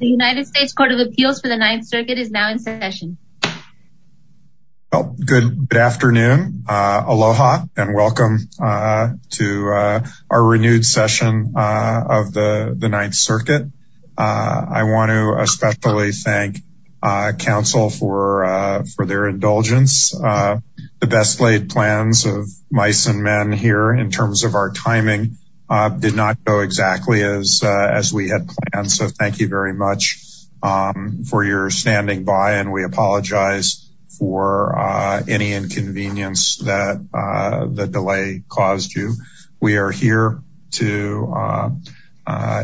The United States Court of Appeals for the Ninth Circuit is now in session. Good afternoon. Aloha, and welcome to our renewed session of the Ninth Circuit. I want to especially thank Council for their indulgence. The best laid plans of mice and men here in terms of our timing did not go exactly as we had planned. So thank you very much for your standing by, and we apologize for any inconvenience that the delay caused you. We are here to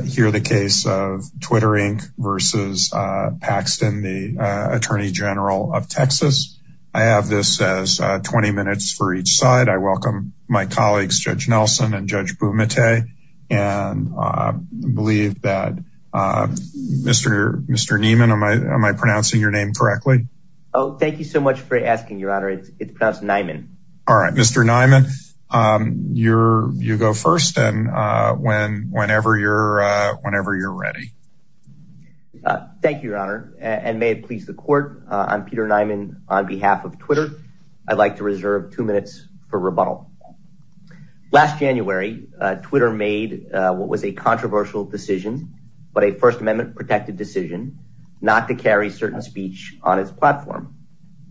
hear the case of Twitter, Inc. v. Paxton, the Attorney General of Texas. I have this as 20 minutes for each side. I welcome my colleagues, Judge Nelson and Judge Bumate. And I believe that Mr. Niemann, am I pronouncing your name correctly? Oh, thank you so much for asking, Your Honor. It's pronounced Niemann. All right, Mr. Niemann, you go first and whenever you're ready. Thank you, Your Honor, and may it please the Court, I'm Peter Niemann on behalf of Twitter. I'd like to reserve two minutes for rebuttal. Last January, Twitter made what was a controversial decision, but a First Amendment protected decision, not to carry certain speech on its platform.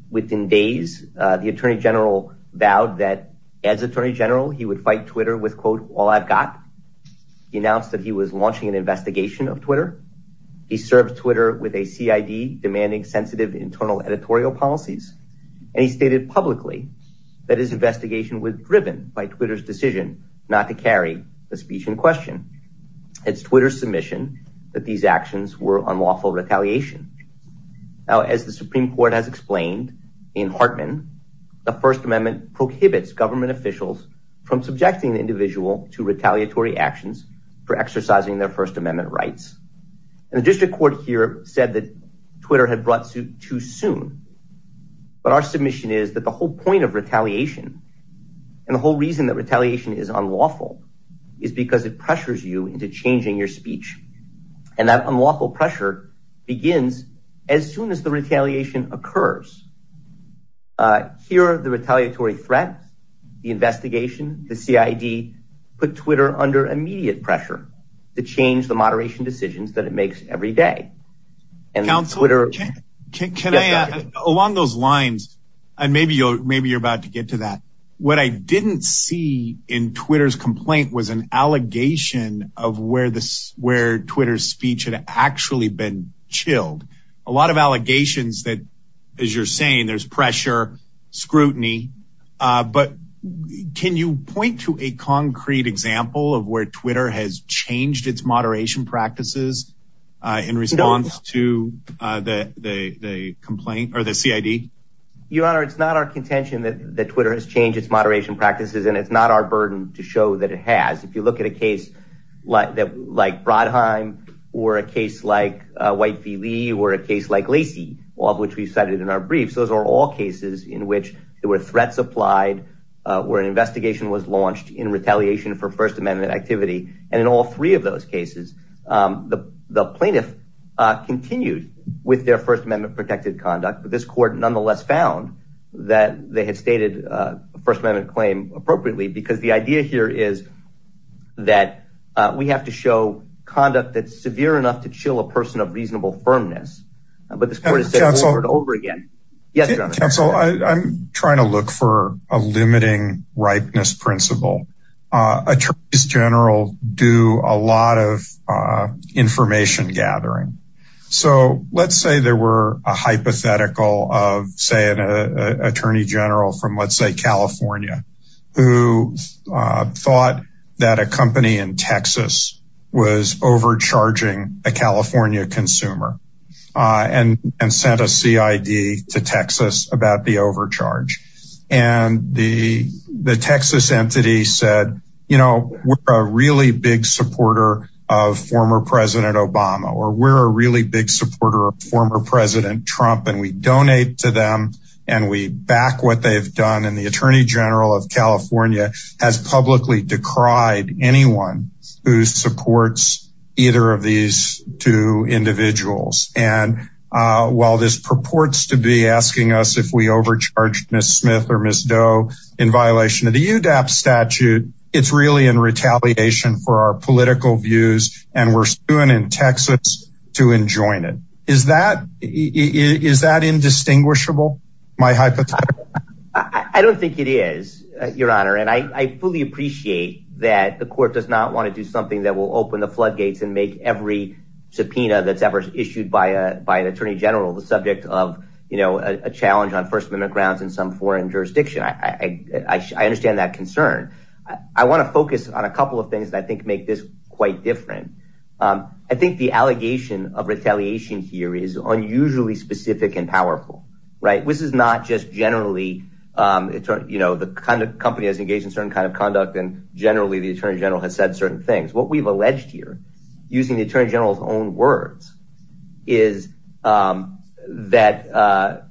Within days, the Attorney General vowed that as Attorney General, he would fight Twitter with, quote, all I've got. He announced that he was launching an investigation of Twitter. He served Twitter with a CID demanding sensitive internal editorial policies. And he stated publicly that his investigation was driven by Twitter's decision not to carry the speech in question. It's Twitter's submission that these actions were unlawful retaliation. Now, as the Supreme Court has explained in Hartman, the First Amendment prohibits government officials from subjecting the individual to retaliatory actions for exercising their First Amendment rights. And the district court here said that Twitter had brought suit too soon. But our submission is that the whole point of retaliation and the whole reason that retaliation is unlawful is because it pressures you into changing your speech. And that unlawful pressure begins as soon as the retaliation occurs. Here, the retaliatory threat, the investigation, the CID put Twitter under immediate pressure to change the moderation decisions that it makes every day. Along those lines, and maybe you're about to get to that. What I didn't see in Twitter's complaint was an allegation of where Twitter's speech had actually been chilled. A lot of allegations that, as you're saying, there's pressure, scrutiny. But can you point to a concrete example of where Twitter has changed its moderation practices in response to the complaint or the CID? Your Honor, it's not our contention that Twitter has changed its moderation practices, and it's not our burden to show that it has. If you look at a case like Brodheim or a case like White v. Lee or a case like Lacey, all of which we cited in our briefs. Those are all cases in which there were threats applied, where an investigation was launched in retaliation for First Amendment activity. And in all three of those cases, the plaintiff continued with their First Amendment protected conduct. But this court nonetheless found that they had stated a First Amendment claim appropriately. Because the idea here is that we have to show conduct that's severe enough to chill a person of reasonable firmness. But this court has said over and over again. Counsel, I'm trying to look for a limiting ripeness principle. Attorneys General do a lot of information gathering. So let's say there were a hypothetical of, say, an attorney general from, let's say, California, who thought that a company in Texas was overcharging a California consumer and sent a CID to Texas about the overcharge. And the Texas entity said, you know, we're a really big supporter of former President Obama or we're a really big supporter of former President Trump. And we donate to them and we back what they've done. And the attorney general of California has publicly decried anyone who supports either of these two individuals. And while this purports to be asking us if we overcharged Miss Smith or Miss Doe in violation of the UDAP statute, it's really in retaliation for our political views. And we're doing in Texas to enjoin it. Is that is that indistinguishable? I don't think it is, Your Honor. And I fully appreciate that the court does not want to do something that will open the floodgates and make every subpoena that's ever issued by a by an attorney general the subject of a challenge on First Amendment grounds in some foreign jurisdiction. I understand that concern. I want to focus on a couple of things that I think make this quite different. I think the allegation of retaliation here is unusually specific and powerful. Right. This is not just generally, you know, the kind of company has engaged in certain kind of conduct. And generally, the attorney general has said certain things. What we've alleged here, using the attorney general's own words, is that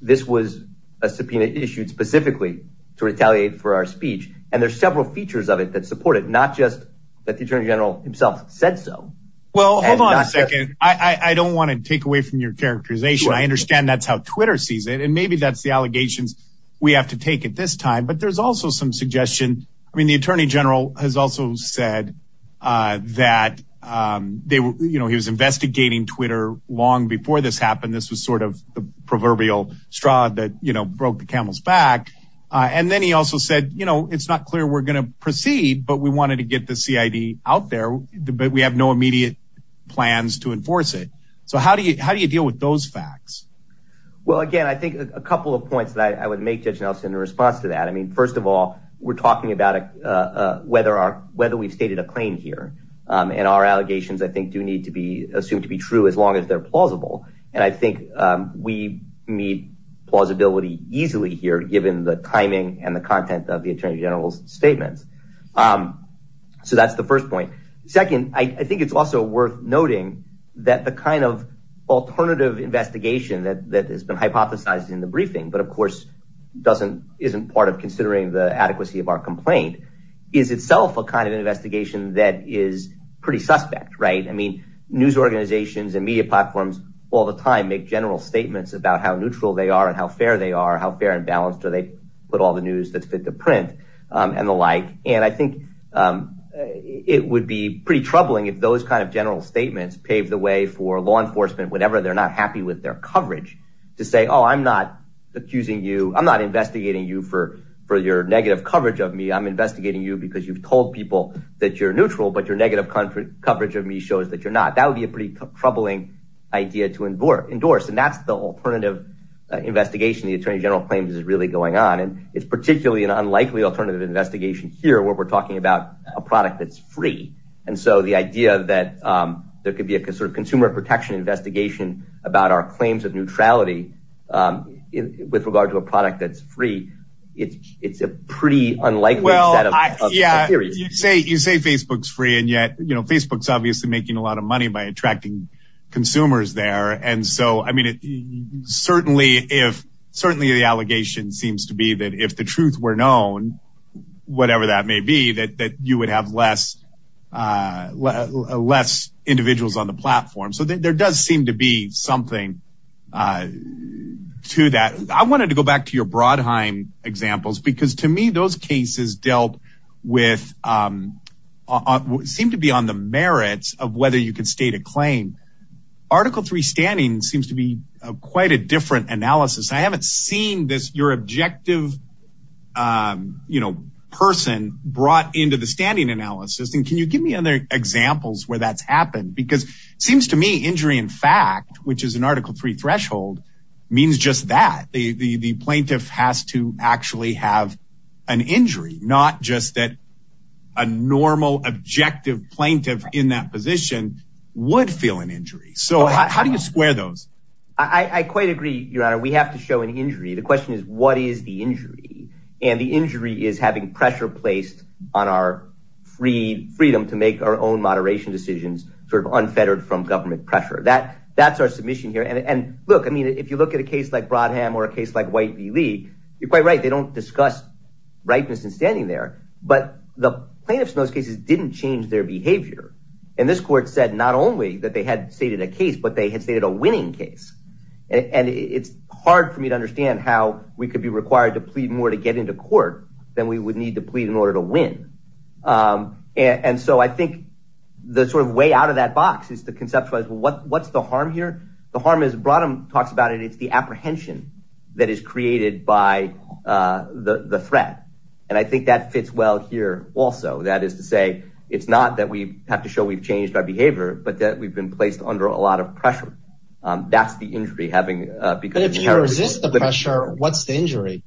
this was a subpoena issued specifically to retaliate for our speech. And there's several features of it that support it, not just that the attorney general himself said so. Well, hold on a second. I don't want to take away from your characterization. I understand that's how Twitter sees it. And maybe that's the allegations we have to take at this time. But there's also some suggestion. I mean, the attorney general has also said that, you know, he was investigating Twitter long before this happened. This was sort of the proverbial straw that, you know, broke the camel's back. And then he also said, you know, it's not clear we're going to proceed, but we wanted to get the CID out there. But we have no immediate plans to enforce it. So how do you deal with those facts? Well, again, I think a couple of points that I would make, Judge Nelson, in response to that. I mean, first of all, we're talking about whether we've stated a claim here. And our allegations, I think, do need to be assumed to be true as long as they're plausible. And I think we meet plausibility easily here, given the timing and the content of the attorney general's statements. So that's the first point. Second, I think it's also worth noting that the kind of alternative investigation that has been hypothesized in the briefing, but, of course, doesn't isn't part of considering the adequacy of our complaint, is itself a kind of investigation that is pretty suspect. Right. I mean, news organizations and media platforms all the time make general statements about how neutral they are and how fair they are, how fair and balanced do they put all the news that's fit to print and the like. And I think it would be pretty troubling if those kind of general statements paved the way for law enforcement, whenever they're not happy with their coverage, to say, oh, I'm not accusing you. I'm not investigating you for your negative coverage of me. I'm investigating you because you've told people that you're neutral, but your negative coverage of me shows that you're not. That would be a pretty troubling idea to endorse. And that's the alternative investigation the attorney general claims is really going on. And it's particularly an unlikely alternative investigation here where we're talking about a product that's free. And so the idea that there could be a sort of consumer protection investigation about our claims of neutrality with regard to a product that's free. It's a pretty unlikely. Well, yeah, you say you say Facebook's free. And yet, you know, Facebook's obviously making a lot of money by attracting consumers there. And so, I mean, certainly if certainly the allegation seems to be that if the truth were known, whatever that may be, that you would have less less individuals on the platform. So there does seem to be something to that. I wanted to go back to your Brodheim examples, because to me, those cases dealt with seem to be on the merits of whether you can state a claim. Article three standing seems to be quite a different analysis. I haven't seen this. Your objective person brought into the standing analysis. And can you give me other examples where that's happened? Because it seems to me injury, in fact, which is an Article three threshold, means just that the plaintiff has to actually have an injury, not just that a normal, objective plaintiff in that position would feel an injury. So how do you square those? I quite agree. Your Honor, we have to show an injury. The question is, what is the injury? And the injury is having pressure placed on our free freedom to make our own moderation decisions sort of unfettered from government pressure. That that's our submission here. And look, I mean, if you look at a case like Brodheim or a case like White v. You're quite right. They don't discuss rightness in standing there. But the plaintiffs in those cases didn't change their behavior. And this court said not only that they had stated a case, but they had stated a winning case. And it's hard for me to understand how we could be required to plead more to get into court than we would need to plead in order to win. And so I think the sort of way out of that box is to conceptualize what what's the harm here. The harm is brought him talks about it. It's the apprehension that is created by the threat. And I think that fits well here also. That is to say, it's not that we have to show we've changed our behavior, but that we've been placed under a lot of pressure. That's the injury having. But if you resist the pressure, what's the injury?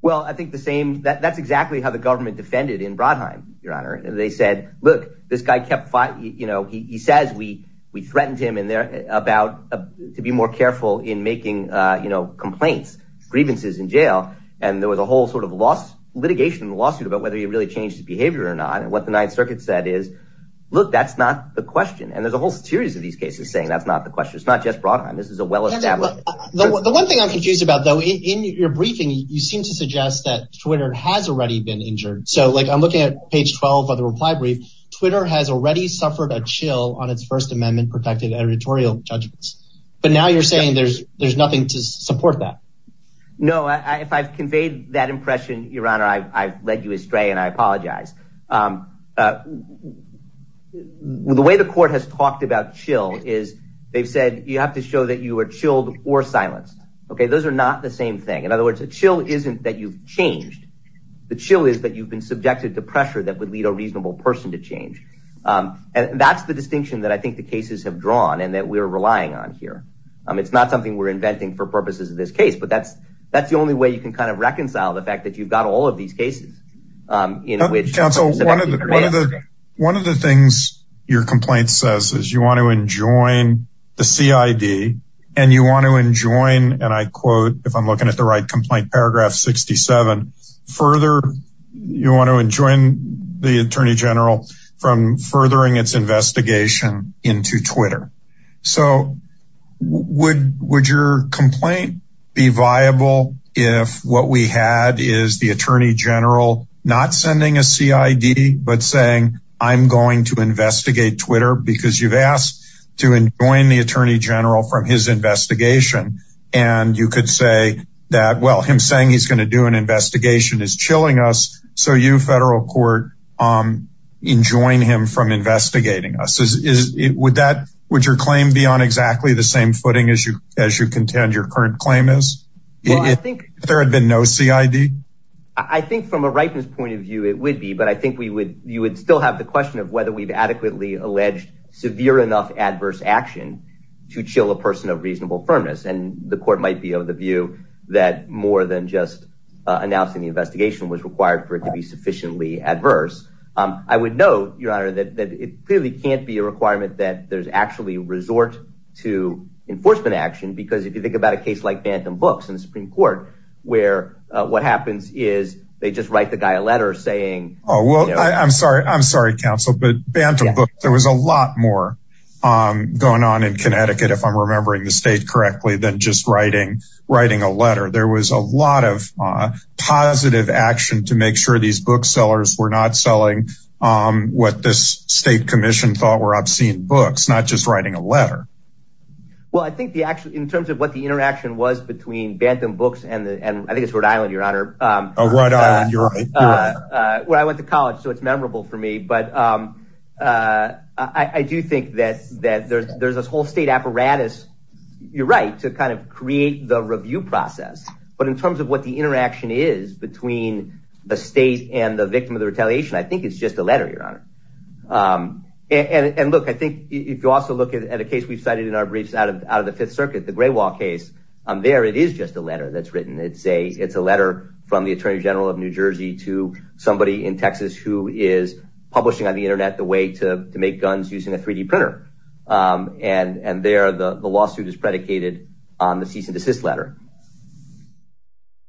Well, I think the same that that's exactly how the government defended in Brodheim, Your Honor. They said, look, this guy kept fighting. You know, he says we we threatened him in there about to be more careful in making, you know, complaints, grievances in jail. And there was a whole sort of loss litigation in the lawsuit about whether he really changed his behavior or not. And what the Ninth Circuit said is, look, that's not the question. And there's a whole series of these cases saying that's not the question. It's not just brought on. This is a well established. The one thing I'm confused about, though, in your briefing, you seem to suggest that Twitter has already been injured. So, like, I'm looking at page 12 of the reply brief. Twitter has already suffered a chill on its First Amendment protected editorial judgments. But now you're saying there's there's nothing to support that. No, if I've conveyed that impression, Your Honor, I've led you astray and I apologize. The way the court has talked about chill is they've said you have to show that you are chilled or silenced. OK, those are not the same thing. In other words, a chill isn't that you've changed. The chill is that you've been subjected to pressure that would lead a reasonable person to change. And that's the distinction that I think the cases have drawn and that we're relying on here. I mean, it's not something we're inventing for purposes of this case, but that's that's the only way you can kind of reconcile the fact that you've got all of these cases. Counsel, one of the one of the one of the things your complaint says is you want to enjoin the CID and you want to enjoin. And I quote, if I'm looking at the right complaint, paragraph 67 further, you want to enjoin the attorney general from furthering its investigation into Twitter. So would would your complaint be viable if what we had is the attorney general not sending a CID, but saying I'm going to investigate Twitter because you've asked to enjoin the attorney general from his investigation? And you could say that, well, him saying he's going to do an investigation is chilling us. So you federal court enjoin him from investigating us? Is it would that would your claim be on exactly the same footing as you as you contend your current claim is? I think there had been no CID. I think from a rightness point of view, it would be. But I think we would you would still have the question of whether we've adequately alleged severe enough adverse action to chill a person of reasonable firmness. And the court might be of the view that more than just announcing the investigation was required for it to be sufficiently adverse. I would know, your honor, that it clearly can't be a requirement that there's actually resort to enforcement action, because if you think about a case like Bantam Books in the Supreme Court where what happens is they just write the guy a letter saying, oh, well, I'm sorry. I'm sorry, counsel, but Bantam Books, there was a lot more going on in Connecticut, if I'm remembering the state correctly, than just writing, writing a letter. There was a lot of positive action to make sure these booksellers were not selling what this state commission thought were obscene books, not just writing a letter. Well, I think the actually in terms of what the interaction was between Bantam Books and I think it's Rhode Island, your honor. Oh, Rhode Island, you're right. Well, I went to college, so it's memorable for me. But I do think that that there's there's this whole state apparatus. You're right to kind of create the review process. But in terms of what the interaction is between the state and the victim of the retaliation, I think it's just a letter. And look, I think if you also look at a case we've cited in our briefs out of out of the Fifth Circuit, the Gray Wall case there, it is just a letter that's written. It's a it's a letter from the attorney general of New Jersey to somebody in Texas who is publishing on the Internet the way to make guns using a 3D printer. And and there the lawsuit is predicated on the cease and desist letter.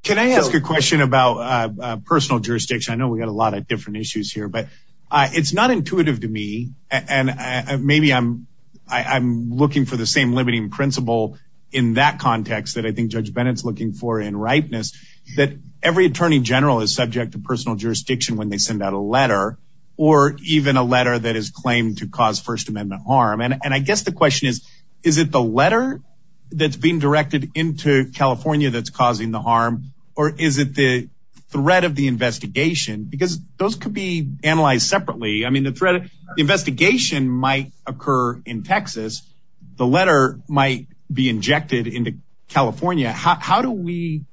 Can I ask a question about personal jurisdiction? I know we got a lot of different issues here, but it's not intuitive to me. And maybe I'm I'm looking for the same limiting principle in that context that I think Judge Bennett's looking for in ripeness, that every attorney general is subject to personal jurisdiction when they send out a letter or even a letter that is claimed to cause First Amendment harm. And I guess the question is, is it the letter that's being directed into California that's causing the harm or is it the threat of the investigation? Because those could be analyzed separately. I mean, the threat of the investigation might occur in Texas. The letter might be injected into California. How do we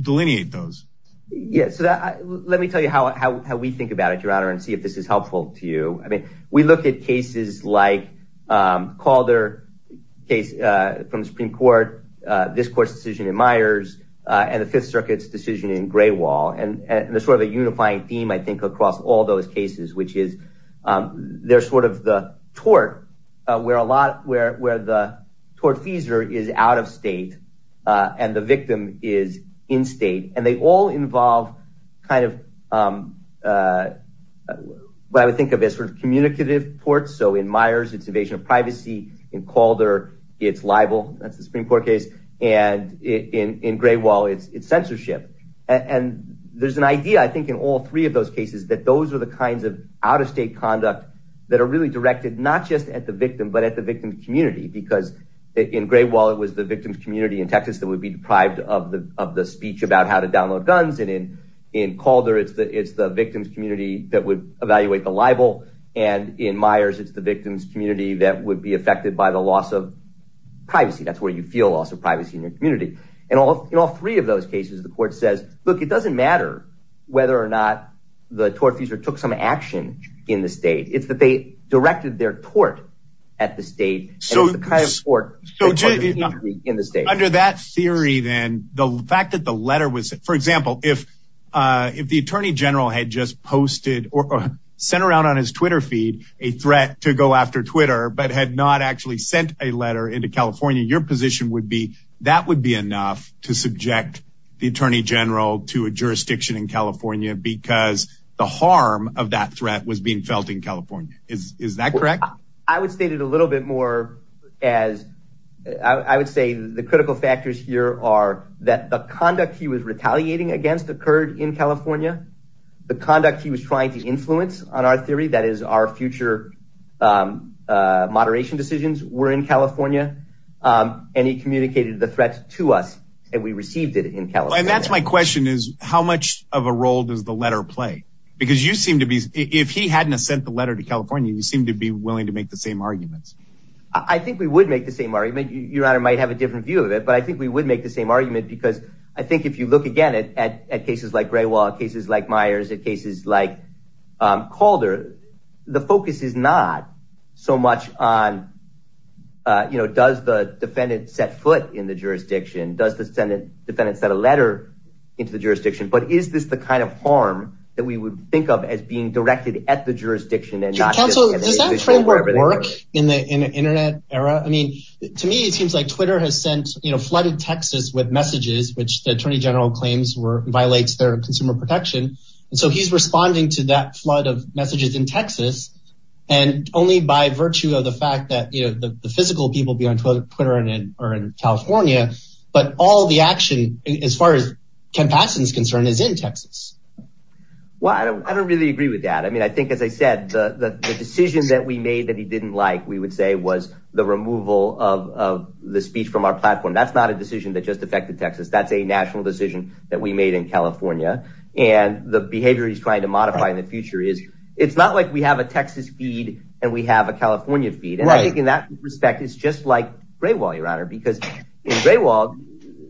delineate those? Yes. Let me tell you how we think about it, Your Honor, and see if this is helpful to you. I mean, we look at cases like Calder case from the Supreme Court, this court's decision in Myers and the Fifth Circuit's decision in Graywall. And there's sort of a unifying theme, I think, across all those cases, which is there's sort of the tort where a lot where where the tortfeasor is out of state and the victim is in state. And they all involve kind of what I would think of as sort of communicative ports. So in Myers, it's invasion of privacy. In Calder, it's libel. That's the Supreme Court case. And in Graywall, it's censorship. And there's an idea, I think, in all three of those cases, that those are the kinds of out-of-state conduct that are really directed not just at the victim, but at the victim community. Because in Graywall, it was the victim's community in Texas that would be deprived of the speech about how to download guns. And in Calder, it's the victim's community that would evaluate the libel. And in Myers, it's the victim's community that would be affected by the loss of privacy. That's where you feel loss of privacy in your community. And in all three of those cases, the court says, look, it doesn't matter whether or not the tortfeasor took some action in the state. It's that they directed their tort at the state. So the kind of tort in the state. So under that theory, then, the fact that the letter was, for example, if the attorney general had just posted or sent around on his Twitter feed a threat to go after Twitter but had not actually sent a letter into California, your position would be that would be enough to subject the attorney general to a jurisdiction in California because the harm of that threat was being felt in California. Is that correct? I would state it a little bit more as I would say the critical factors here are that the conduct he was retaliating against occurred in California. The conduct he was trying to influence on our theory, that is, our future moderation decisions were in California. And he communicated the threat to us and we received it in California. And that's my question is how much of a role does the letter play? Because you seem to be if he hadn't sent the letter to California, you seem to be willing to make the same arguments. I think we would make the same argument. Your Honor might have a different view of it, but I think we would make the same argument because I think if you look again at cases like Gray Wall, cases like Myers, at cases like Calder, the focus is not so much on, you know, does the defendant set foot in the jurisdiction? Does the defendant set a letter into the jurisdiction? But is this the kind of harm that we would think of as being directed at the jurisdiction? Counsel, does that framework work in the Internet era? I mean, to me, it seems like Twitter has sent, you know, flooded Texas with messages, which the attorney general claims were violates their consumer protection. And so he's responding to that flood of messages in Texas. And only by virtue of the fact that, you know, the physical people be on Twitter and are in California. But all the action as far as compassion is concerned is in Texas. Well, I don't really agree with that. I mean, I think, as I said, the decision that we made that he didn't like, we would say, was the removal of the speech from our platform. That's not a decision that just affected Texas. That's a national decision that we made in California. And the behavior he's trying to modify in the future is it's not like we have a Texas feed and we have a California feed. And I think in that respect, it's just like Gray Wall, Your Honor, because in Gray Wall,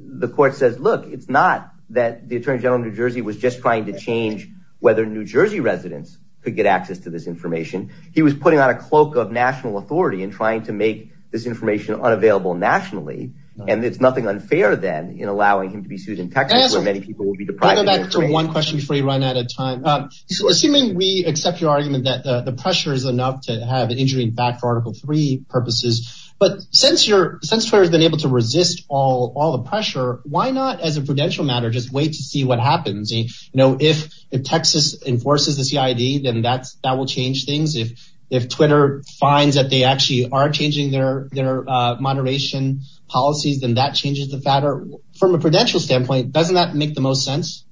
the court says, look, it's not that the attorney general in New Jersey was just trying to change whether New Jersey residents could get access to this information. He was putting on a cloak of national authority and trying to make this information unavailable nationally. And it's nothing unfair then in allowing him to be sued in Texas, where many people will be deprived of one question free run at a time. Assuming we accept your argument that the pressure is enough to have an injury back for Article three purposes. But since you're since you've been able to resist all all the pressure, why not as a prudential matter, just wait to see what happens? You know, if if Texas enforces the CID, then that's that will change things. If if Twitter finds that they actually are changing their their moderation policies, then that changes the matter from a prudential standpoint. Doesn't that make the most sense?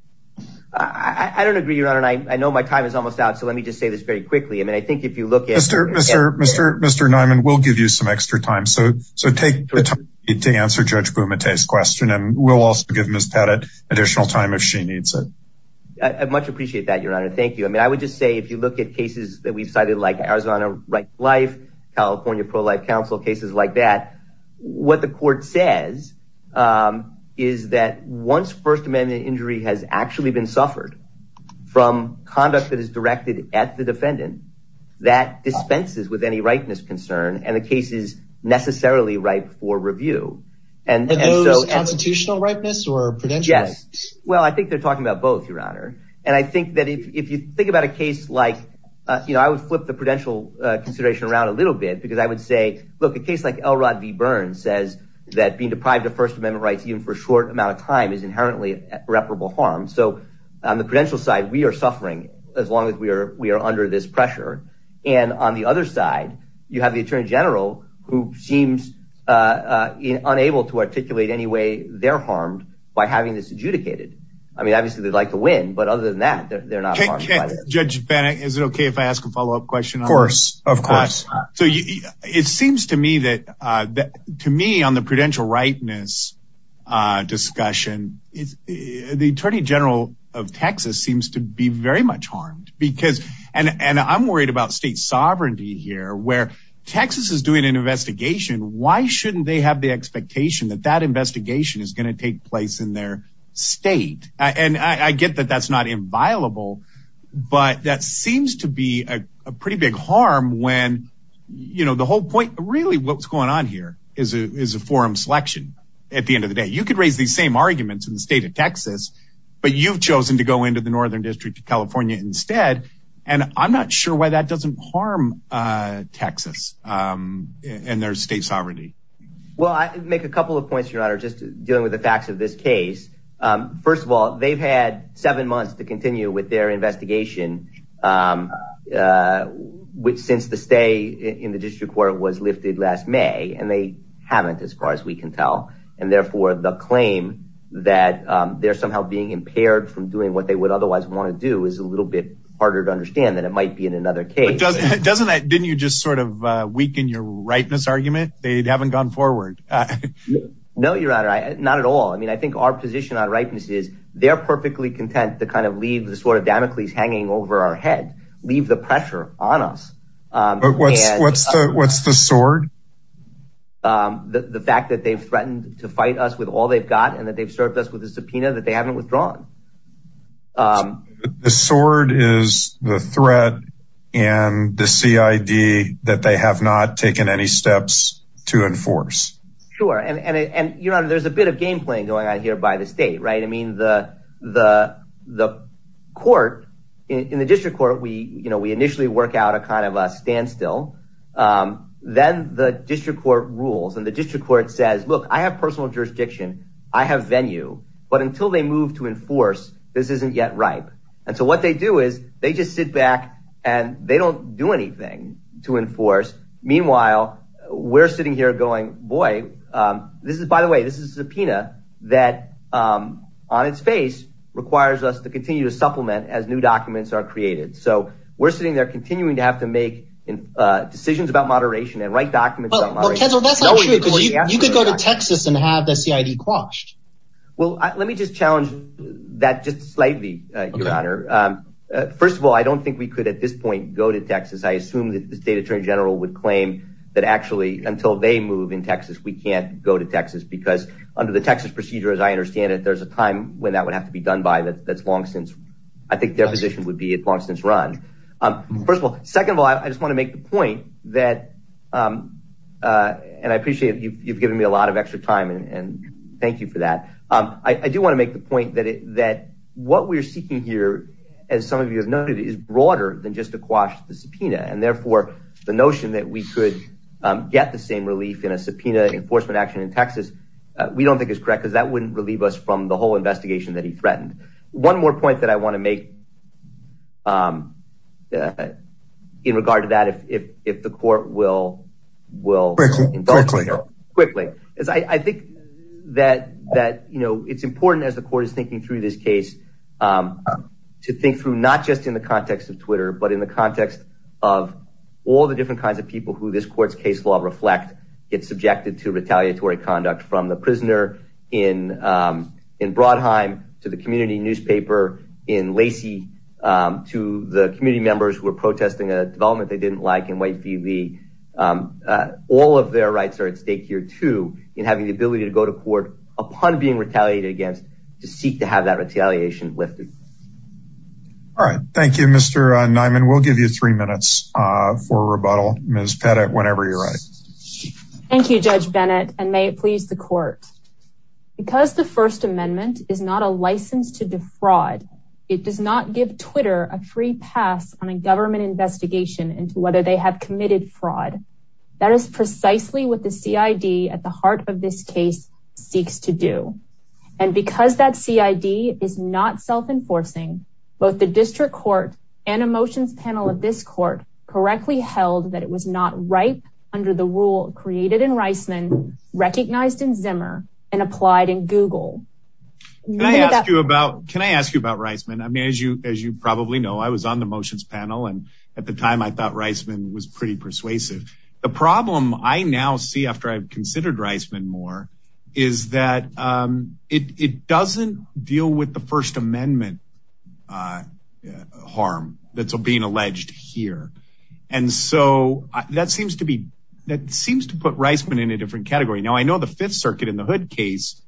I don't agree, Your Honor. And I know my time is almost out. So let me just say this very quickly. I mean, I think if you look at. Mr. Mr. Mr. Mr. Nyman, we'll give you some extra time. So so take the time to answer Judge Bumate's question and we'll also give Miss Pettit additional time if she needs it. I much appreciate that, Your Honor. Thank you. I mean, I would just say if you look at cases that we've cited, like Arizona Right to Life, California Pro-Life Council, cases like that. What the court says is that once First Amendment injury has actually been suffered from conduct that is directed at the defendant, that dispenses with any rightness concern and the case is necessarily right for review. And those constitutional rightness or prudential? Yes. Well, I think they're talking about both, Your Honor. And I think that if you think about a case like, you know, I would flip the prudential consideration around a little bit because I would say, look, a case like Elrod v. Burns says that being deprived of First Amendment rights even for a short amount of time is inherently irreparable harm. So on the prudential side, we are suffering as long as we are we are under this pressure. And on the other side, you have the attorney general who seems unable to articulate any way they're harmed by having this adjudicated. I mean, obviously, they'd like to win, but other than that, they're not. Judge Bennett, is it OK if I ask a follow up question? Of course. Of course. So it seems to me that to me on the prudential rightness discussion is the attorney general of Texas seems to be very much harmed because. And I'm worried about state sovereignty here where Texas is doing an investigation. Why shouldn't they have the expectation that that investigation is going to take place in their state? And I get that that's not inviolable, but that seems to be a pretty big harm when, you know, the whole point really what's going on here is a forum selection. At the end of the day, you could raise these same arguments in the state of Texas, but you've chosen to go into the Northern District of California instead. And I'm not sure why that doesn't harm Texas and their state sovereignty. Well, I make a couple of points, Your Honor, just dealing with the facts of this case. First of all, they've had seven months to continue with their investigation, which since the stay in the district court was lifted last May and they haven't as far as we can tell. And therefore, the claim that they're somehow being impaired from doing what they would otherwise want to do is a little bit harder to understand than it might be in another case. Didn't you just sort of weaken your rightness argument? They haven't gone forward. No, Your Honor. Not at all. I mean, I think our position on rightness is they're perfectly content to kind of leave the sword of Damocles hanging over our head, leave the pressure on us. But what's the sword? The fact that they've threatened to fight us with all they've got and that they've served us with a subpoena that they haven't withdrawn. The sword is the threat and the CID that they have not taken any steps to enforce. Sure. And you know, there's a bit of game playing going on here by the state. Right. I mean, the the the court in the district court, we you know, we initially work out a kind of a standstill. Then the district court rules and the district court says, look, I have personal jurisdiction. I have venue. But until they move to enforce, this isn't yet ripe. And so what they do is they just sit back and they don't do anything to enforce. Meanwhile, we're sitting here going, boy, this is by the way, this is a subpoena that on its face requires us to continue to supplement as new documents are created. So we're sitting there continuing to have to make decisions about moderation and write documents. You could go to Texas and have the CID quashed. Well, let me just challenge that just slightly, your honor. First of all, I don't think we could at this point go to Texas. I assume that the state attorney general would claim that actually until they move in Texas, we can't go to Texas. Because under the Texas procedure, as I understand it, there's a time when that would have to be done by that. That's long since I think their position would be a long since run. First of all, second of all, I just want to make the point that and I appreciate you've given me a lot of extra time. And thank you for that. I do want to make the point that that what we're seeking here, as some of you have noted, is broader than just a quash the subpoena. And therefore, the notion that we could get the same relief in a subpoena enforcement action in Texas, we don't think is correct because that wouldn't relieve us from the whole investigation that he threatened. One more point that I want to make. In regard to that, if if if the court will will quickly, quickly, as I think that that, you know, it's important as the court is thinking through this case to think through not just in the context of Twitter, but in the context of all the different kinds of people who this court's case law reflect. It's subjected to retaliatory conduct from the prisoner in in Brodheim, to the community newspaper in Lacey, to the community members who are protesting a development they didn't like in Whitefield. All of their rights are at stake here, too, in having the ability to go to court upon being retaliated against to seek to have that retaliation lifted. All right. Thank you, Mr. Nyman. We'll give you three minutes for rebuttal. Ms. Pettit, whenever you're ready. Thank you, Judge Bennett. And may it please the court, because the First Amendment is not a license to defraud. It does not give Twitter a free pass on a government investigation into whether they have committed fraud. That is precisely what the CID at the heart of this case seeks to do. And because that CID is not self-enforcing, both the district court and a motions panel of this court correctly held that it was not right under the rule created in Reisman, recognized in Zimmer and applied in Google. Can I ask you about can I ask you about Reisman? I mean, as you as you probably know, I was on the motions panel and at the time I thought Reisman was pretty persuasive. The problem I now see after I've considered Reisman more is that it doesn't deal with the First Amendment harm that's being alleged here. And so that seems to be that seems to put Reisman in a different category. Now, I know the Fifth Circuit in the hood case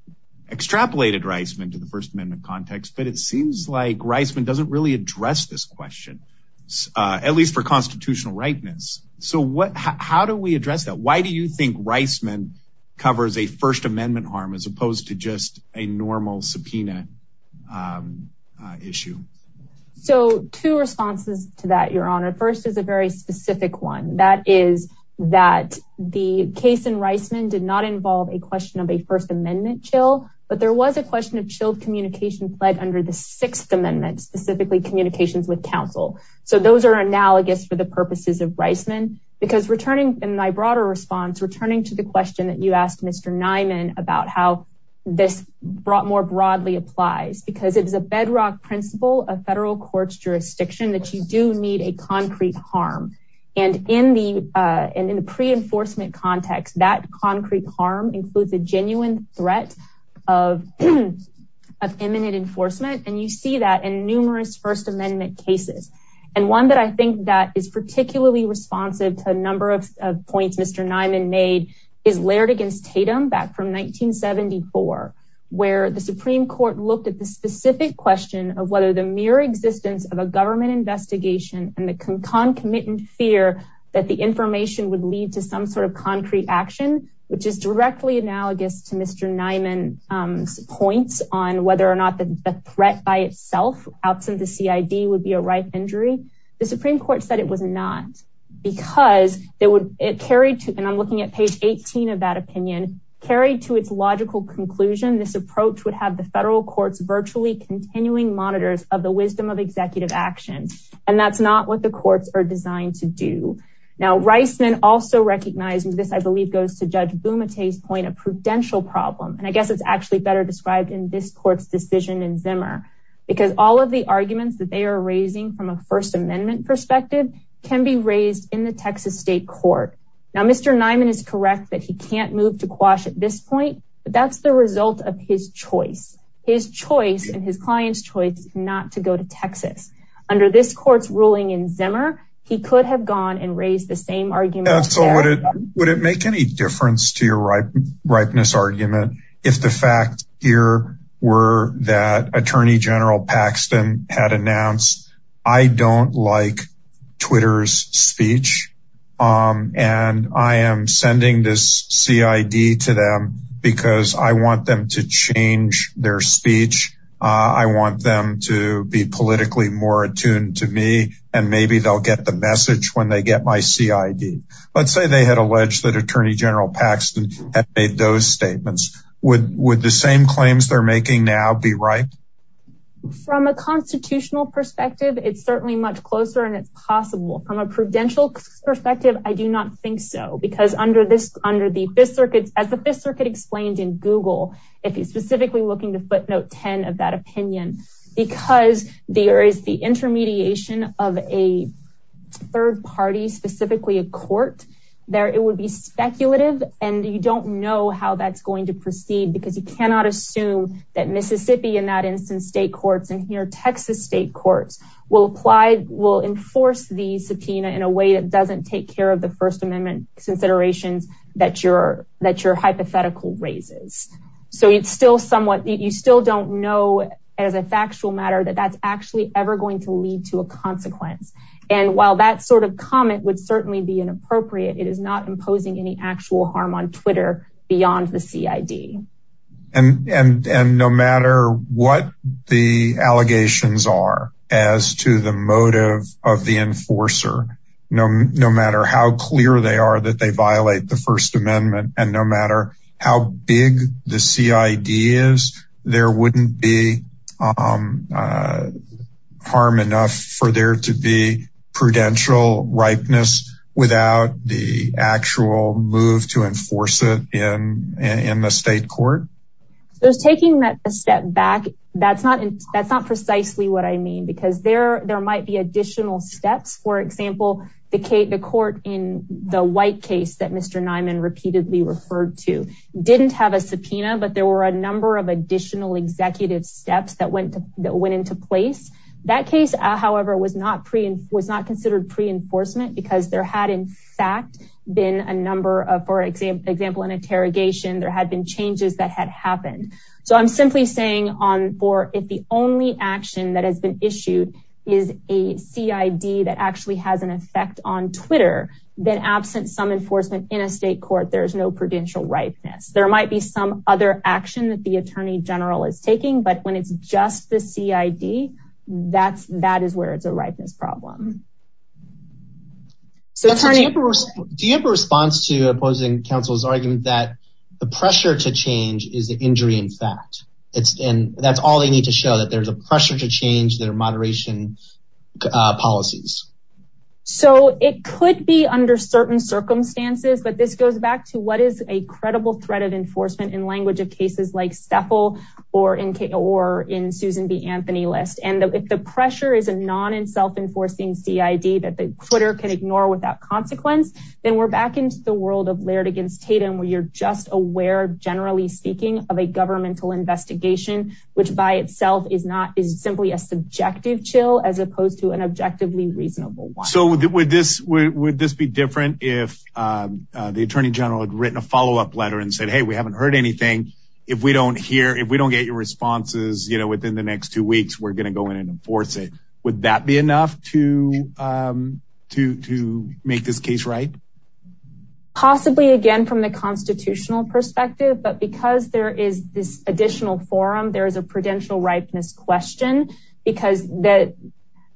extrapolated Reisman to the First Amendment context. But it seems like Reisman doesn't really address this question, at least for constitutional rightness. So what how do we address that? Why do you think Reisman covers a First Amendment harm as opposed to just a normal subpoena issue? So two responses to that, Your Honor. First is a very specific one. That is that the case in Reisman did not involve a question of a First Amendment chill. But there was a question of chilled communication played under the Sixth Amendment, specifically communications with counsel. So those are analogous for the purposes of Reisman. Because returning in my broader response, returning to the question that you asked Mr. Niman about how this brought more broadly applies, because it is a bedrock principle of federal courts jurisdiction that you do need a concrete harm. And in the in the pre enforcement context, that concrete harm includes a genuine threat of imminent enforcement. And you see that in numerous First Amendment cases. And one that I think that is particularly responsive to a number of points Mr. Niman made is Laird against Tatum back from 1974, where the Supreme Court looked at the specific question of whether the mere existence of a government investigation and the concomitant fear that the information would lead to some sort of concrete action, which is directly analogous to Mr. Niman's points on whether or not the threat by itself outside the CID would be a right injury. The Supreme Court said it was not because it carried to and I'm looking at page 18 of that opinion carried to its logical conclusion. This approach would have the federal courts virtually continuing monitors of the wisdom of executive action. And that's not what the courts are designed to do. Now, Reisman also recognizes this, I believe, goes to Judge Bumate's point of prudential problem. And I guess it's actually better described in this court's decision in Zimmer, because all of the arguments that they are raising from a First Amendment perspective can be raised in the Texas state court. Now, Mr. Niman is correct that he can't move to quash at this point. But that's the result of his choice, his choice and his client's choice not to go to Texas. Under this court's ruling in Zimmer, he could have gone and raised the same argument. So would it would it make any difference to your right? Rightness argument. If the facts here were that Attorney General Paxton had announced, I don't like Twitter's speech. And I am sending this CID to them because I want them to change their speech. I want them to be politically more attuned to me. And maybe they'll get the message when they get my CID. Let's say they had alleged that Attorney General Paxton had made those statements. Would would the same claims they're making now be right? From a constitutional perspective, it's certainly much closer and it's possible from a prudential perspective. I do not think so, because under this, under the Fifth Circuit, as the Fifth Circuit explained in Google, if you specifically looking to footnote 10 of that opinion, because there is the intermediation of a third party, specifically a court there, it would be speculative. And you don't know how that's going to proceed because you cannot assume that Mississippi, in that instance, state courts and here Texas state courts will apply, the subpoena in a way that doesn't take care of the First Amendment considerations that you're that you're hypothetical raises. So it's still somewhat you still don't know, as a factual matter, that that's actually ever going to lead to a consequence. And while that sort of comment would certainly be inappropriate, it is not imposing any actual harm on Twitter beyond the CID. And no matter what the allegations are as to the motive of the enforcer, no matter how clear they are that they violate the First Amendment and no matter how big the CID is, there wouldn't be harm enough for there to be prudential ripeness without the actual move to enforce it in the state court. There's taking that step back. That's not that's not precisely what I mean, because there there might be additional steps. For example, the court in the white case that Mr. But there were a number of additional executive steps that went that went into place. That case, however, was not pre and was not considered pre enforcement because there had in fact been a number of for example, an interrogation there had been changes that had happened. So I'm simply saying on for if the only action that has been issued is a CID that actually has an effect on Twitter, then absent some enforcement in a state court, there is no prudential ripeness. There might be some other action that the attorney general is taking. But when it's just the CID, that's that is where it's a ripeness problem. So do you have a response to opposing counsel's argument that the pressure to change is the injury? In fact, it's and that's all they need to show that there's a pressure to change their moderation policies. So it could be under certain circumstances. But this goes back to what is a credible threat of enforcement in language of cases like Staple or in or in Susan B. Anthony list. And if the pressure is a non and self-enforcing CID that the Twitter can ignore without consequence, then we're back into the world of Laird against Tatum, where you're just aware, generally speaking, of a governmental investigation, which by itself is not is simply a subjective chill as opposed to an objectively reasonable one. So with this, would this be different if the attorney general had written a follow up letter and said, hey, we haven't heard anything. If we don't hear if we don't get your responses within the next two weeks, we're going to go in and enforce it. Would that be enough to to to make this case right? Possibly again, from the constitutional perspective. But because there is this additional forum, there is a prudential ripeness question because that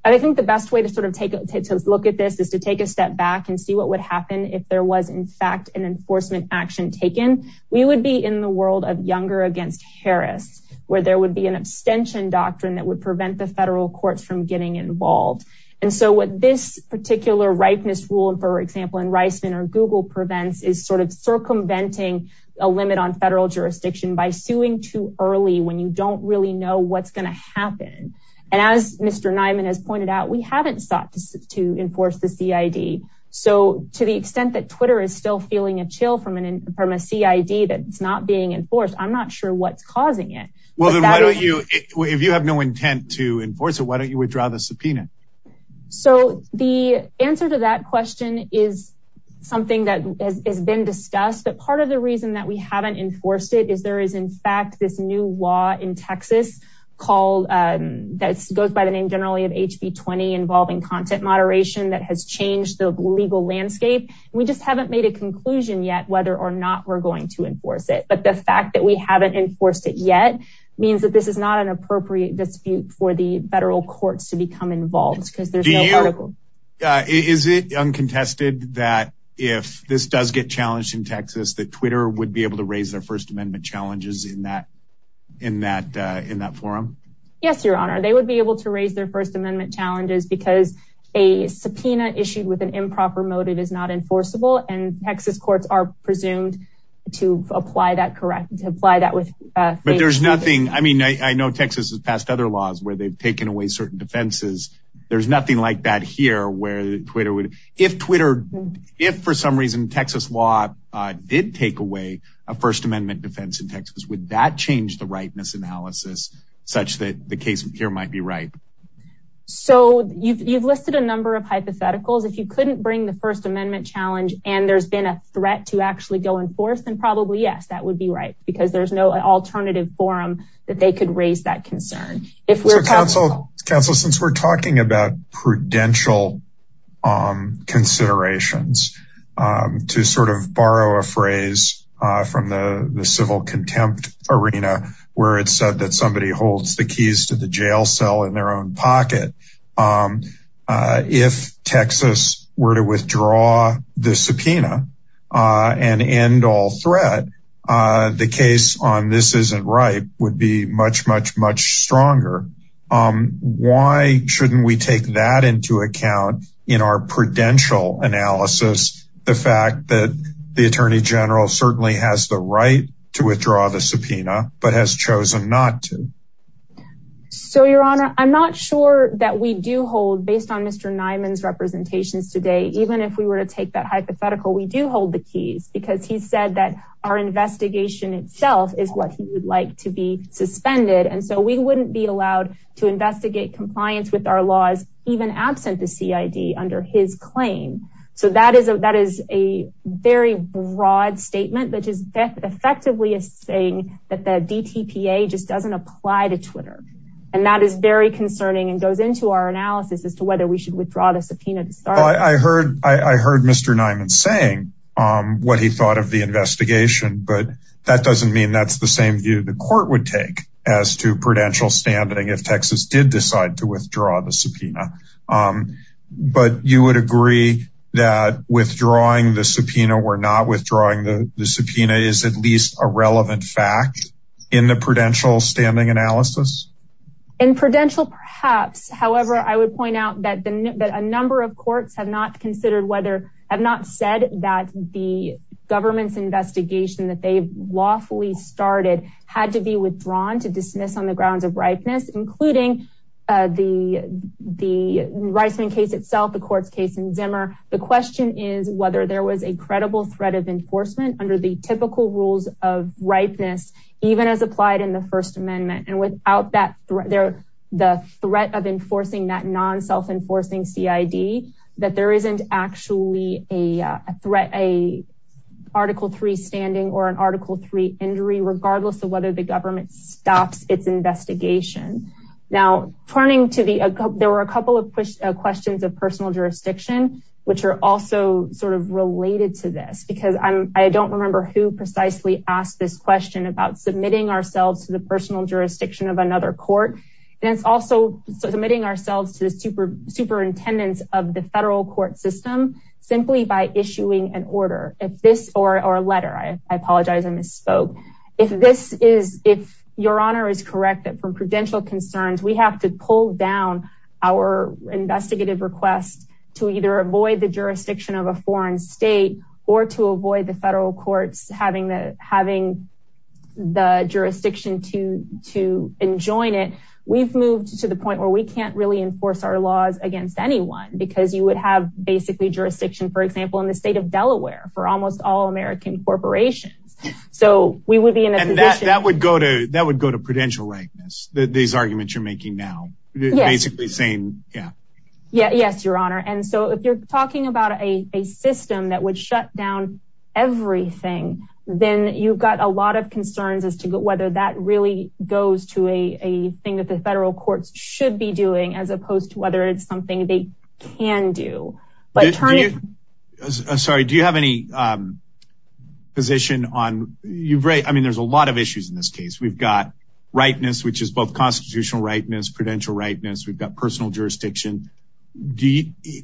I think the best way to sort of take a look at this is to take a step back and see what would happen if there was, in fact, an enforcement action taken. We would be in the world of Younger against Harris, where there would be an abstention doctrine that would prevent the federal courts from getting involved. And so what this particular ripeness rule, for example, in Reisman or Google prevents is sort of circumventing a limit on federal jurisdiction by suing too early when you don't really know what's going to happen. And as Mr. Nyman has pointed out, we haven't sought to enforce the CID. So to the extent that Twitter is still feeling a chill from an from a CID that it's not being enforced, I'm not sure what's causing it. If you have no intent to enforce it, why don't you withdraw the subpoena? So the answer to that question is something that has been discussed. But part of the reason that we haven't enforced it is there is, in fact, this new law in Texas called that goes by the name generally of HB 20 involving content moderation that has changed the legal landscape. We just haven't made a conclusion yet whether or not we're going to enforce it. But the fact that we haven't enforced it yet means that this is not an appropriate dispute for the federal courts to become involved because there's no article. Is it uncontested that if this does get challenged in Texas, that Twitter would be able to raise their First Amendment challenges in that in that in that forum? Yes, Your Honor, they would be able to raise their First Amendment challenges because a subpoena issued with an improper motive is not enforceable. And Texas courts are presumed to apply that correct to apply that with. But there's nothing. I mean, I know Texas has passed other laws where they've taken away certain defenses. There's nothing like that here where Twitter would if Twitter, if for some reason Texas law did take away a First Amendment defense in Texas, would that change the rightness analysis such that the case here might be right? So you've listed a number of hypotheticals. If you couldn't bring the First Amendment challenge and there's been a threat to actually go in force, then probably, yes, that would be right, because there's no alternative forum that they could raise that concern. Counsel, since we're talking about prudential considerations to sort of borrow a phrase from the civil contempt arena where it's said that somebody holds the keys to the jail cell in their own pocket. If Texas were to withdraw the subpoena and end all threat, the case on this isn't right would be much, much, much stronger. Why shouldn't we take that into account in our prudential analysis? The fact that the attorney general certainly has the right to withdraw the subpoena, but has chosen not to. So, Your Honor, I'm not sure that we do hold based on Mr. Nyman's representations today. Even if we were to take that hypothetical, we do hold the keys because he said that our investigation itself is what he would like to be suspended. And so we wouldn't be allowed to investigate compliance with our laws, even absent the CID under his claim. So that is a very broad statement that is effectively saying that the DTPA just doesn't apply to Twitter. And that is very concerning and goes into our analysis as to whether we should withdraw the subpoena. I heard I heard Mr. Nyman saying what he thought of the investigation. But that doesn't mean that's the same view the court would take as to prudential standing if Texas did decide to withdraw the subpoena. But you would agree that withdrawing the subpoena or not withdrawing the subpoena is at least a relevant fact in the prudential standing analysis? In prudential, perhaps. However, I would point out that a number of courts have not considered whether I've not said that the government's investigation that they've lawfully started had to be withdrawn to dismiss on the grounds of ripeness, including the the Reisman case itself, the court's case in Zimmer. The question is whether there was a credible threat of enforcement under the typical rules of ripeness, even as applied in the First Amendment. And without that, the threat of enforcing that non-self-enforcing CID, that there isn't actually a threat, a Article 3 standing or an Article 3 injury, regardless of whether the government stops its investigation. Now, turning to the, there were a couple of questions of personal jurisdiction, which are also sort of related to this because I don't remember who precisely asked this question about submitting ourselves to the personal jurisdiction of another court. And it's also submitting ourselves to the super superintendents of the federal court system simply by issuing an order. Or a letter, I apologize, I misspoke. If this is, if Your Honor is correct that from prudential concerns, we have to pull down our investigative request to either avoid the jurisdiction of a foreign state or to avoid the federal courts having the jurisdiction to enjoin it. We've moved to the point where we can't really enforce our laws against anyone because you would have basically jurisdiction, for example, in the state of Delaware for almost all American corporations. So we would be in a position- And that would go to prudential likeness, these arguments you're making now. Yes. Basically saying, yeah. Yes, Your Honor. And so if you're talking about a system that would shut down everything, then you've got a lot of concerns as to whether that really goes to a thing that the federal courts should be doing as opposed to whether it's something they can do. Sorry, do you have any position on- I mean, there's a lot of issues in this case. We've got rightness, which is both constitutional rightness, prudential rightness. We've got personal jurisdiction.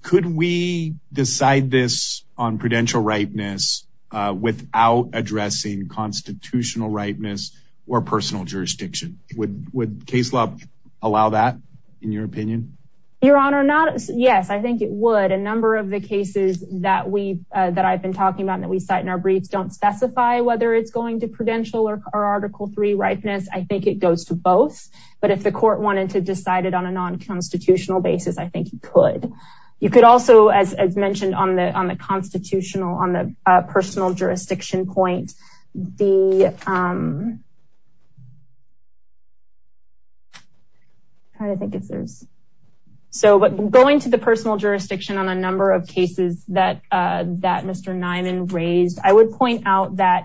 Could we decide this on prudential rightness without addressing constitutional rightness or personal jurisdiction? Would case law allow that, in your opinion? Your Honor, yes, I think it would. A number of the cases that I've been talking about and that we cite in our briefs don't specify whether it's going to prudential or Article III rightness. I think it goes to both. But if the court wanted to decide it on a non-constitutional basis, I think you could. You could also, as mentioned, on the constitutional, on the personal jurisdiction point, the- I'm trying to think if there's- So, going to the personal jurisdiction on a number of cases that Mr. Nyman raised, I would point out that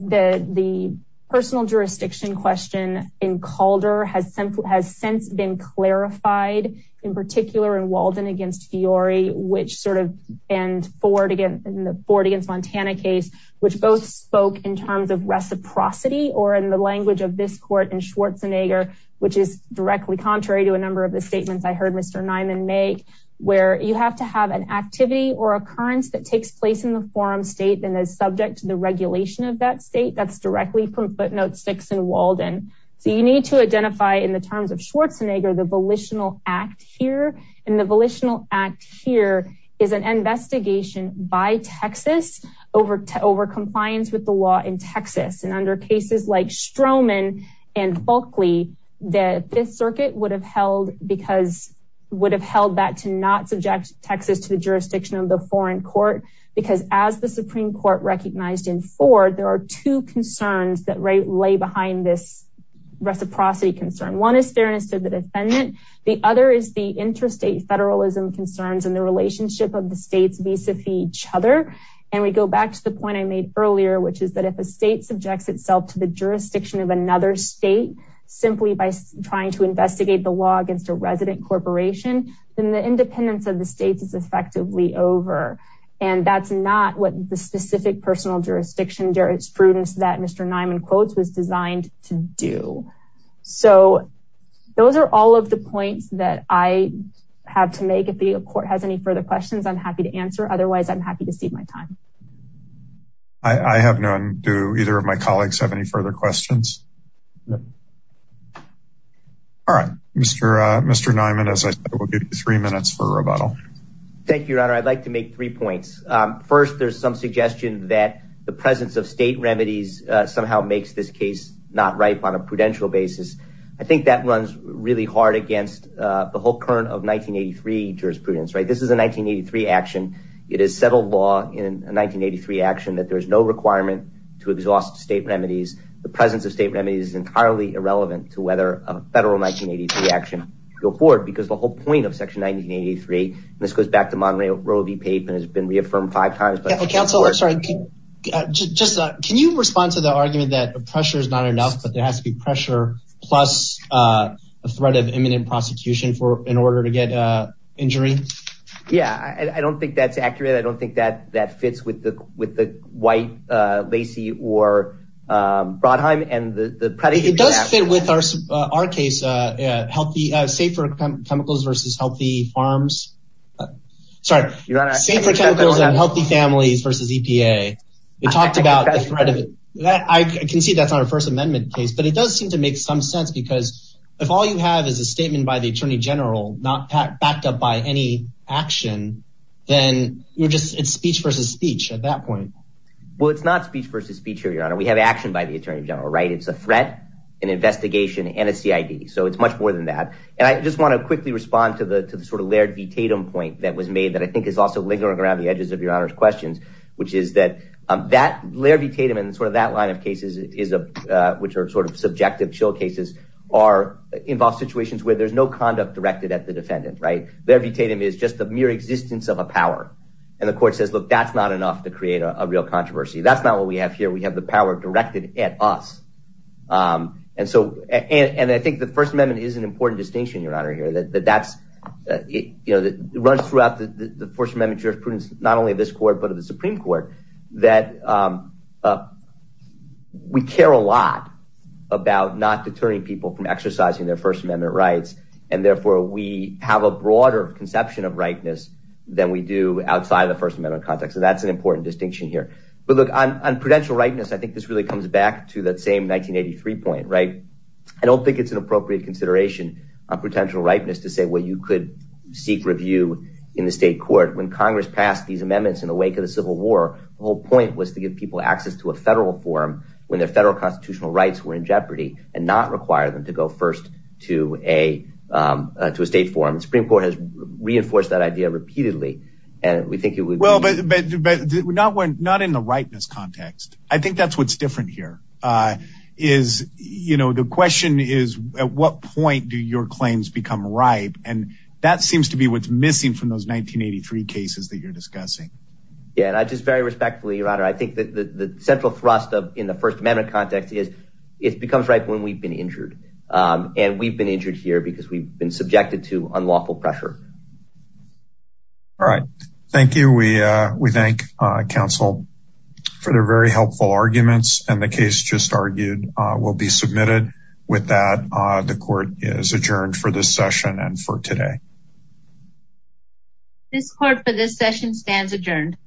the personal jurisdiction question in Calder has since been clarified, in particular in Walden against Fiore, which sort of- in the Ford against Montana case, which both spoke in terms of reciprocity or in the language of this court in Schwarzenegger, which is directly contrary to a number of the statements I heard Mr. Nyman make, where you have to have an activity or occurrence that takes place in the forum state and is subject to the regulation of that state. That's directly from footnote six in Walden. So you need to identify, in the terms of Schwarzenegger, the volitional act here. And the volitional act here is an investigation by Texas over compliance with the law in Texas. And under cases like Stroman and Folkley, the Fifth Circuit would have held because- would have held that to not subject Texas to the jurisdiction of the foreign court, because as the Supreme Court recognized in Ford, there are two concerns that lay behind this reciprocity concern. One is fairness to the defendant. The other is the interstate federalism concerns and the relationship of the states vis-a-vis each other. And we go back to the point I made earlier, which is that if a state subjects itself to the jurisdiction of another state, simply by trying to investigate the law against a resident corporation, then the independence of the states is effectively over. And that's not what the specific personal jurisdiction jurisprudence that Mr. Nyman quotes was designed to do. So those are all of the points that I have to make. If the court has any further questions, I'm happy to answer. Otherwise, I'm happy to cede my time. I have none. Do either of my colleagues have any further questions? No. All right. Mr. Nyman, as I said, we'll give you three minutes for rebuttal. Thank you, Your Honor. I'd like to make three points. First, there's some suggestion that the presence of state remedies somehow makes this case not ripe on a prudential basis. I think that runs really hard against the whole current of 1983 jurisprudence, right? This is a 1983 action. It is settled law in a 1983 action that there is no requirement to exhaust state remedies. The presence of state remedies is entirely irrelevant to whether a federal 1983 action go forward because the whole point of Section 1983, this goes back to Monroe v. Pape and has been reaffirmed five times. Counsel, I'm sorry. Can you respond to the argument that pressure is not enough, but there has to be pressure plus a threat of imminent prosecution in order to get injury? Yeah, I don't think that's accurate. I don't think that fits with the white Lacey or Brodheim and the predicate. It does fit with our case, safer chemicals versus healthy farms. Sorry. Safer chemicals and healthy families versus EPA. I can see that's not a First Amendment case, but it does seem to make some sense because if all you have is a statement by the attorney general not backed up by any action, then you're just speech versus speech at that point. Well, it's not speech versus speech here, Your Honor. We have action by the attorney general, right? It's a threat, an investigation, and a CID, so it's much more than that. And I just want to quickly respond to the sort of Laird v. Tatum point that was made that I think is also lingering around the edges of Your Honor's questions, which is that Laird v. Tatum and sort of that line of cases, which are sort of subjective chill cases, involve situations where there's no conduct directed at the defendant, right? Laird v. Tatum is just the mere existence of a power. And the court says, look, that's not enough to create a real controversy. That's not what we have here. We have the power directed at us. And I think the First Amendment is an important distinction, Your Honor, here that runs throughout the First Amendment jurisprudence, not only of this court but of the Supreme Court, that we care a lot about not deterring people from exercising their First Amendment rights. And therefore, we have a broader conception of rightness than we do outside of the First Amendment context, and that's an important distinction here. But, look, on prudential rightness, I think this really comes back to that same 1983 point, right? I don't think it's an appropriate consideration on prudential rightness to say, well, you could seek review in the state court. When Congress passed these amendments in the wake of the Civil War, the whole point was to give people access to a federal forum when their federal constitutional rights were in jeopardy and not require them to go first to a state forum. The Supreme Court has reinforced that idea repeatedly. Well, but not in the rightness context. I think that's what's different here is the question is, at what point do your claims become ripe? And that seems to be what's missing from those 1983 cases that you're discussing. Yeah, and just very respectfully, Your Honor, I think that the central thrust in the First Amendment context is it becomes ripe when we've been injured. And we've been injured here because we've been subjected to unlawful pressure. All right. Thank you. We thank counsel for their very helpful arguments. And the case just argued will be submitted. With that, the court is adjourned for this session and for today. This court for this session stands adjourned.